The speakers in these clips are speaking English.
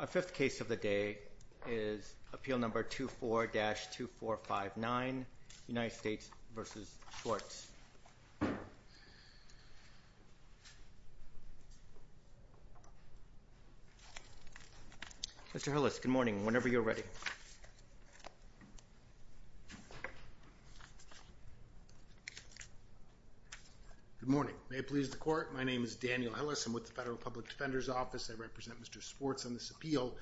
Our fifth case of the day is appeal number 24-2459, United States v. Swartz. Mr. Hillis, good morning. Whenever you're ready. Good morning. May it please the court, my name is Daniel Hillis, I'm with the Federal Public Defender's I represent Mr. Swartz on this appeal.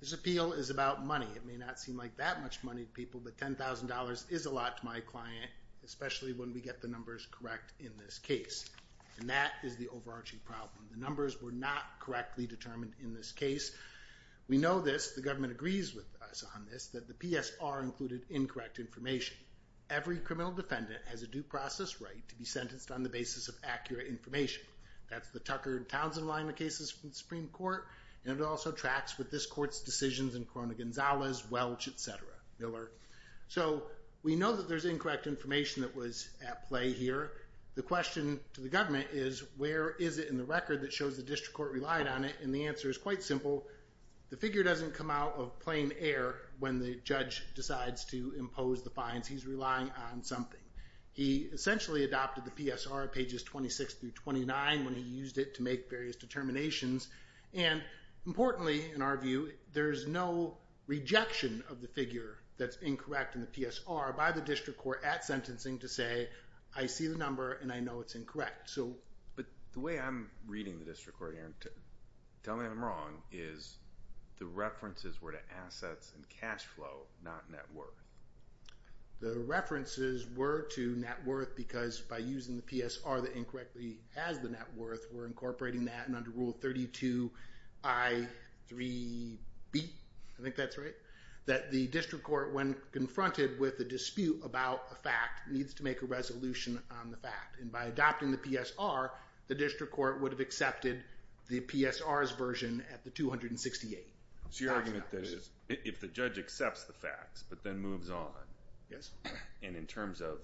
This appeal is about money. It may not seem like that much money to people, but $10,000 is a lot to my client, especially when we get the numbers correct in this case, and that is the overarching problem. The numbers were not correctly determined in this case. We know this, the government agrees with us on this, that the PSR included incorrect information. Every criminal defendant has a due process right to be sentenced on the basis of accurate information. That's the Tucker and Townsend line of cases from the Supreme Court, and it also tracks with this court's decisions in Corona-Gonzalez, Welch, etc., Miller. So we know that there's incorrect information that was at play here. The question to the government is, where is it in the record that shows the district court relied on it, and the answer is quite simple. The figure doesn't come out of plain air when the judge decides to impose the fines. He's relying on something. He essentially adopted the PSR, pages 26 through 29, when he used it to make various determinations, and importantly, in our view, there's no rejection of the figure that's incorrect in the PSR by the district court at sentencing to say, I see the number and I know it's incorrect. But the way I'm reading the district court here, and tell me I'm wrong, is the references were to assets and cash flow, not net worth. The references were to net worth because by using the PSR that incorrectly has the net worth, we're incorporating that, and under Rule 32I-3B, I think that's right, that the district court, when confronted with a dispute about a fact, needs to make a resolution on the fact. And by adopting the PSR, the district court would have accepted the PSR's version at the 268. So your argument is, if the judge accepts the facts, but then moves on, and in terms of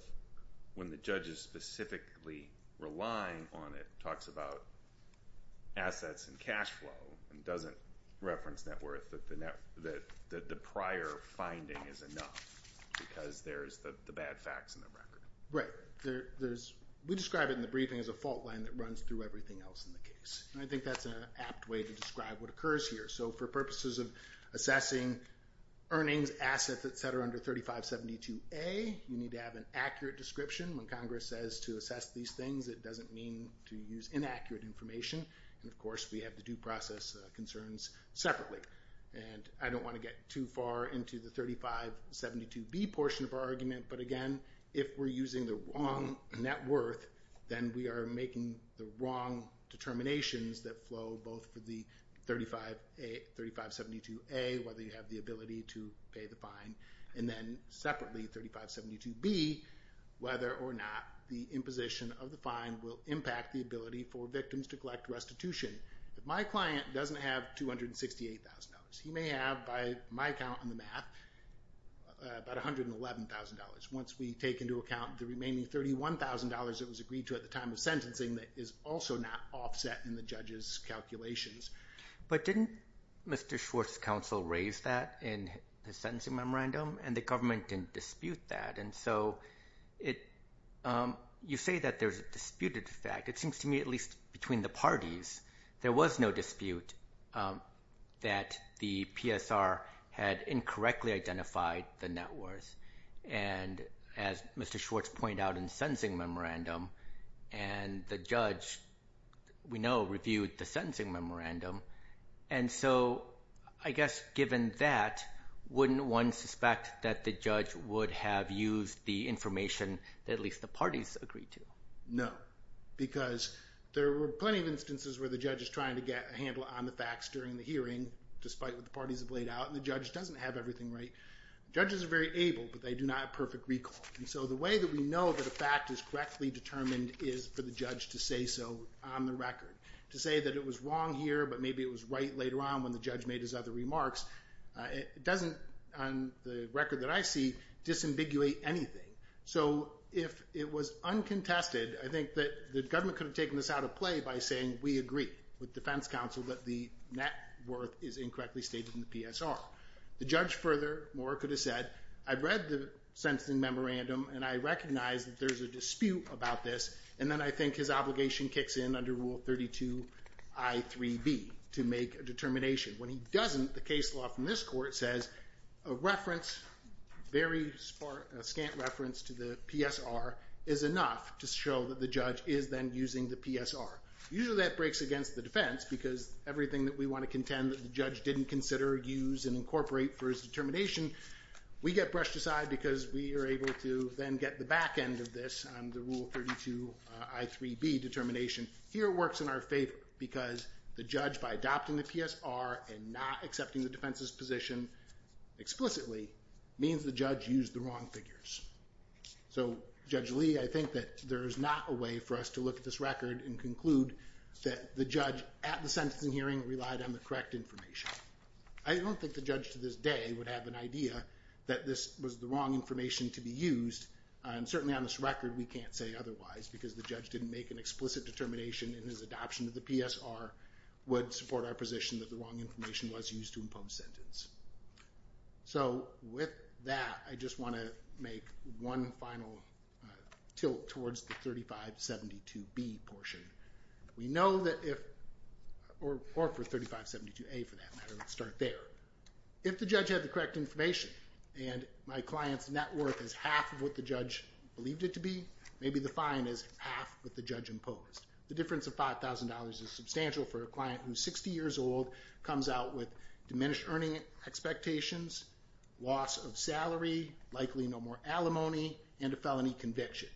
when the judge is specifically relying on it, talks about assets and cash flow, and doesn't reference net worth, that the prior finding is enough because there's the bad facts in the record. Right. There's, we describe it in the briefing as a fault line that runs through everything else in the case. And I think that's an apt way to describe what occurs here. So for purposes of assessing earnings, assets, et cetera, under 3572A, you need to have an accurate description. When Congress says to assess these things, it doesn't mean to use inaccurate information. And of course, we have the due process concerns separately. And I don't want to get too far into the 3572B portion of our argument, but again, if we're using the wrong net worth, then we are making the wrong determinations that flow both for the 3572A, whether you have the ability to pay the fine, and then separately, 3572B, whether or not the imposition of the fine will impact the ability for victims to collect restitution. If my client doesn't have $268,000, he may have, by my count in the math, about $111,000. Once we take into account the remaining $31,000 that was agreed to at the time of sentencing, that is also not offset in the judge's calculations. But didn't Mr. Schwartz's counsel raise that in the sentencing memorandum? And the government didn't dispute that. And so you say that there's a disputed fact. It seems to me, at least between the parties, there was no dispute that the PSR had incorrectly identified the net worth. And as Mr. Schwartz pointed out in the sentencing memorandum, and the judge, we know, reviewed the sentencing memorandum. And so, I guess, given that, wouldn't one suspect that the judge would have used the information that at least the parties agreed to? No. Because there were plenty of instances where the judge is trying to get a handle on the facts during the hearing, despite what the parties have laid out, and the judge doesn't have everything right. Judges are very able, but they do not have perfect recall. And so the way that we know that a fact is correctly determined is for the judge to say so on the record. To say that it was wrong here, but maybe it was right later on when the judge made his other remarks, it doesn't, on the record that I see, disambiguate anything. So if it was uncontested, I think that the government could have taken this out of play by saying, we agree with defense counsel that the net worth is incorrectly stated in the memorandum. If the judge further, more could have said, I've read the sentencing memorandum, and I recognize that there's a dispute about this, and then I think his obligation kicks in under Rule 32I.3b to make a determination. When he doesn't, the case law from this court says, a reference, a very scant reference to the PSR is enough to show that the judge is then using the PSR. Usually that breaks against the defense, because everything that we want to contend that the judge didn't consider, use, and incorporate for his determination, we get brushed aside because we are able to then get the back end of this on the Rule 32I.3b determination. Here it works in our favor, because the judge, by adopting the PSR and not accepting the defense's position explicitly, means the judge used the wrong figures. So Judge Lee, I think that there is not a way for us to look at this record and conclude that the judge, at the sentencing hearing, relied on the correct information. I don't think the judge to this day would have an idea that this was the wrong information to be used, and certainly on this record we can't say otherwise, because the judge didn't make an explicit determination in his adoption of the PSR would support our position that the wrong information was used to impose sentence. So with that, I just want to make one final tilt towards the 3572b portion. We know that if, or for 3572a for that matter, let's start there. If the judge had the correct information, and my client's net worth is half of what the judge believed it to be, maybe the fine is half what the judge imposed. The difference of $5,000 is substantial for a client who's 60 years old, comes out with diminished earning expectations, loss of salary, likely no more alimony, and a felony conviction.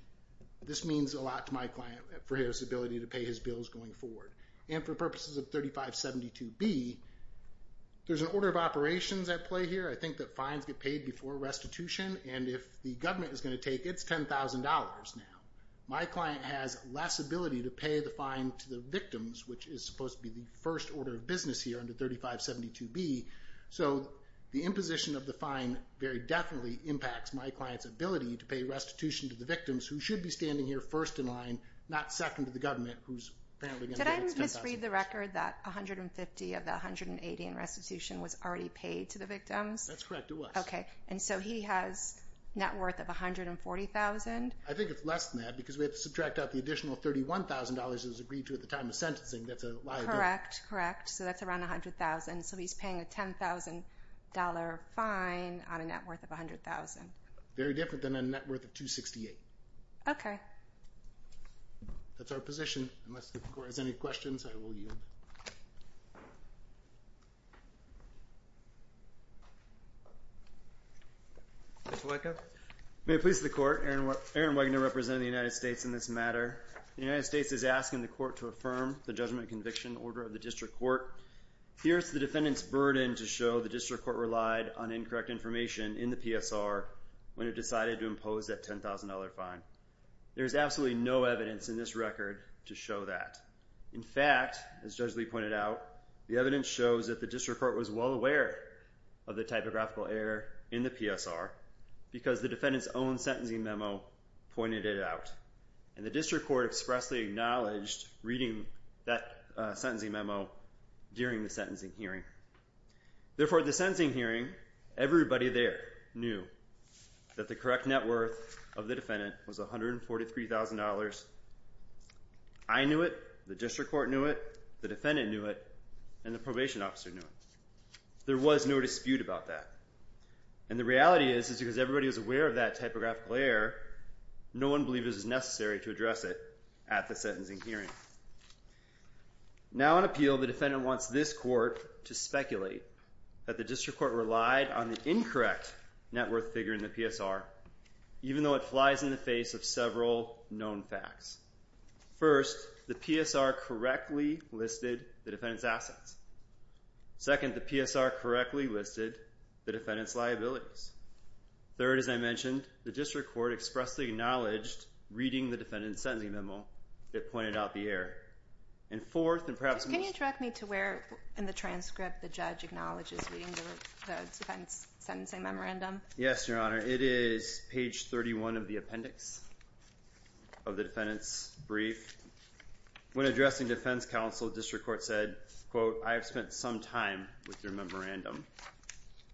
This means a lot to my client for his ability to pay his bills going forward. And for purposes of 3572b, there's an order of operations at play here. I think that fines get paid before restitution, and if the government is going to take it, it's $10,000 now. My client has less ability to pay the fine to the victims, which is supposed to be the first order of business here under 3572b. So the imposition of the fine very definitely impacts my client's ability to pay restitution to the victims, who should be standing here first in line, not second to the government, who's apparently going to get its $10,000. Did I misread the record that $150,000 of the $180,000 in restitution was already paid to the victims? That's correct, it was. Okay. And so he has net worth of $140,000? I think it's less than that, because we have to subtract out the additional $31,000 that was agreed to at the time of sentencing that's a liability. Correct, correct. So that's around $100,000. So he's paying a $10,000 fine on a net worth of $100,000. Very different than a net worth of $268,000. That's our position. Unless the court has any questions, I will yield. Mr. Wieckow? May it please the court, Aaron Wieckow representing the United States in this matter. The United States is asking the court to affirm the judgment and conviction order of the district court. Here's the defendant's burden to show the district court relied on incorrect information in the PSR when it decided to impose that $10,000 fine. There's absolutely no evidence in this record to show that. In fact, as Judge Lee pointed out, the evidence shows that the district court was well aware of the typographical error in the PSR because the defendant's own sentencing memo pointed it out. And the district court expressly acknowledged reading that sentencing memo during the sentencing hearing. Therefore, at the sentencing hearing, everybody there knew that the correct net worth of the defendant was $143,000. I knew it. The district court knew it. The defendant knew it. And the probation officer knew it. There was no dispute about that. And the reality is, is because everybody was aware of that typographical error, no one believed it was necessary to address it at the sentencing hearing. Now, on appeal, the defendant wants this court to speculate that the district court relied on the incorrect net worth figure in the PSR, even though it flies in the face of several known facts. First, the PSR correctly listed the defendant's assets. Second, the PSR correctly listed the defendant's liabilities. Third, as I mentioned, the district court expressly acknowledged reading the defendant's sentencing memo that pointed out the error. And fourth, and perhaps most... Can you direct me to where in the transcript the judge acknowledges reading the defendant's sentencing memorandum? Yes, Your Honor. It is page 31 of the appendix of the defendant's brief. When addressing defense counsel, the district court said, quote, I have spent some time with your memorandum.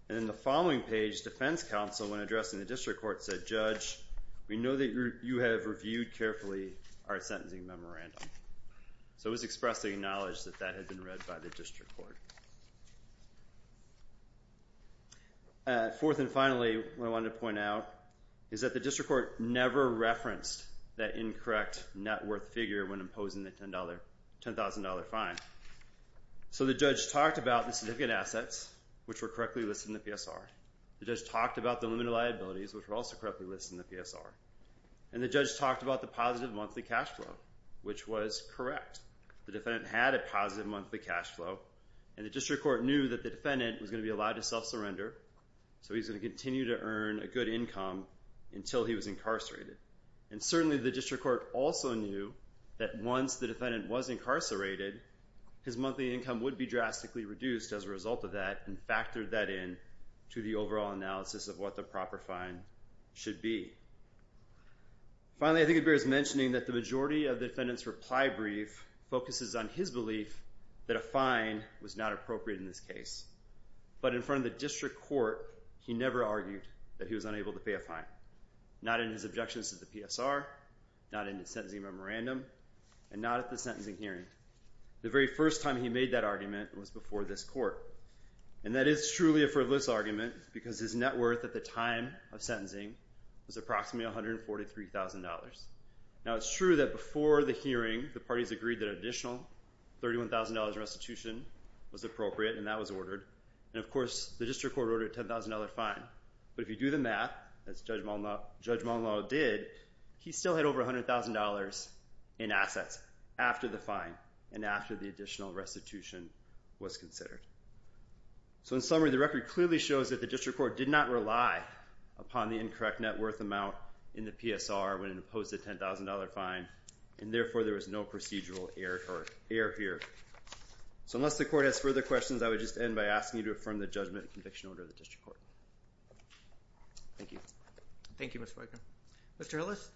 And in the following page, defense counsel, when addressing the district court said, Judge, we know that you have reviewed carefully our sentencing memorandum. So it was expressly acknowledged that that had been read by the district court. Fourth and finally, what I wanted to point out is that the district court never referenced that incorrect net worth figure when imposing the $10,000 fine. So the judge talked about the significant assets, which were correctly listed in the PSR. The judge talked about the limited liabilities, which were also correctly listed in the PSR. And the judge talked about the positive monthly cash flow, which was correct. The defendant had a positive monthly cash flow, and the district court knew that the defendant was going to be allowed to self-surrender, so he's going to continue to earn a good income until he was incarcerated. And certainly the district court also knew that once the defendant was incarcerated, his monthly income would be drastically reduced as a result of that, and factored that in to the overall analysis of what the proper fine should be. Finally, I think it bears mentioning that the majority of the defendant's reply brief focuses on his belief that a fine was not appropriate in this case. But in front of the district court, he never argued that he was unable to pay a fine. Not in his objections to the PSR, not in his sentencing memorandum, and not at the sentencing hearing. The very first time he made that argument was before this court. And that is truly a frivolous argument, because his net worth at the time of sentencing was approximately $143,000. Now it's true that before the hearing, the parties agreed that an additional $31,000 restitution was appropriate, and that was ordered. And of course, the district court ordered a $10,000 fine. But if you do the math, as Judge Monlaw did, he still had over $100,000 in assets after the fine, and after the additional restitution was considered. So in summary, the record clearly shows that the district court did not rely upon the incorrect net worth amount in the PSR when it imposed a $10,000 fine, and therefore there was no procedural error here. So unless the court has further questions, I would just end by asking you to affirm the judgment and conviction order of the district court. Thank you. Thank you, Mr. Wagner. Mr. Hillis?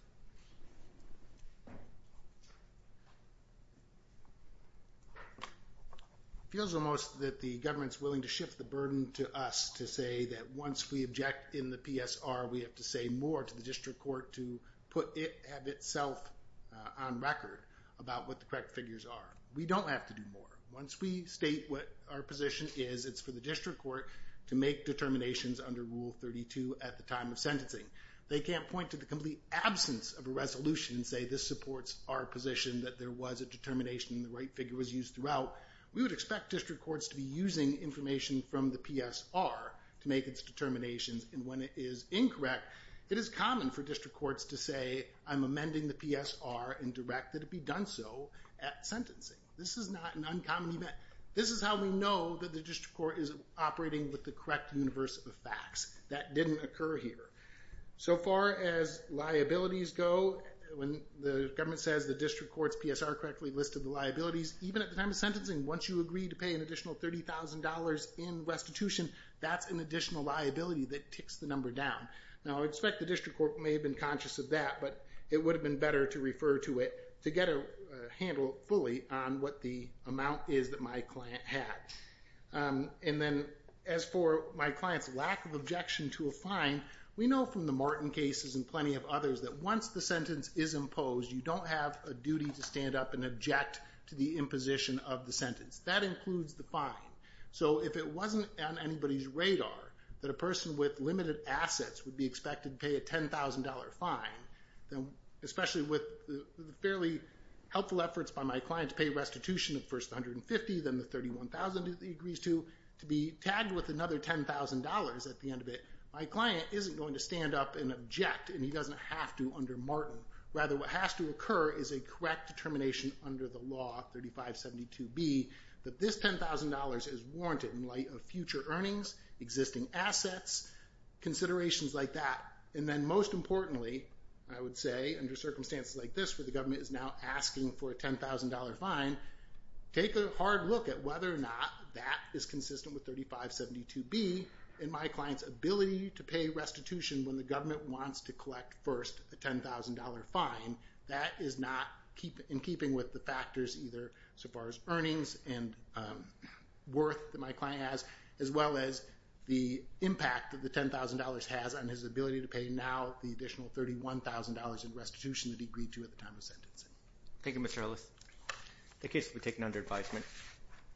It feels almost that the government's willing to shift the burden to us to say that once we object in the PSR, we have to say more to the district court to put it of itself on record about what the correct figures are. We don't have to do more. Once we state what our position is, it's for the district court to make determinations under Rule 32 at the time of sentencing. They can't point to the complete absence of a resolution and say, this supports our position that there was a determination and the right figure was used throughout. We would expect district courts to be using information from the PSR to make its determinations, and when it is incorrect, it is common for district courts to say, I'm amending the PSR and direct that it be done so at sentencing. This is not an uncommon event. This is how we know that the district court is operating with the correct universe of that didn't occur here. So far as liabilities go, when the government says the district court's PSR correctly listed the liabilities, even at the time of sentencing, once you agree to pay an additional $30,000 in restitution, that's an additional liability that ticks the number down. Now I expect the district court may have been conscious of that, but it would have been better to refer to it to get a handle fully on what the amount is that my client had. And then as for my client's lack of objection to a fine, we know from the Martin cases and plenty of others that once the sentence is imposed, you don't have a duty to stand up and object to the imposition of the sentence. That includes the fine. So if it wasn't on anybody's radar that a person with limited assets would be expected to pay a $10,000 fine, especially with the fairly helpful efforts by my client to pay a restitution of the first $150,000, then the $31,000 that he agrees to, to be tagged with another $10,000 at the end of it, my client isn't going to stand up and object and he doesn't have to under Martin. Rather, what has to occur is a correct determination under the law, 3572B, that this $10,000 is warranted in light of future earnings, existing assets, considerations like that. And then most importantly, I would say, under circumstances like this where the government is now asking for a $10,000 fine, take a hard look at whether or not that is consistent with 3572B in my client's ability to pay restitution when the government wants to collect first a $10,000 fine. That is not, in keeping with the factors either so far as earnings and worth that my client has, as well as the impact that the $10,000 has on his ability to pay now the additional $31,000 in restitution that he agreed to at the time of sentencing. Thank you, Mr. Ellis. Thank you. This will be taken under advisement.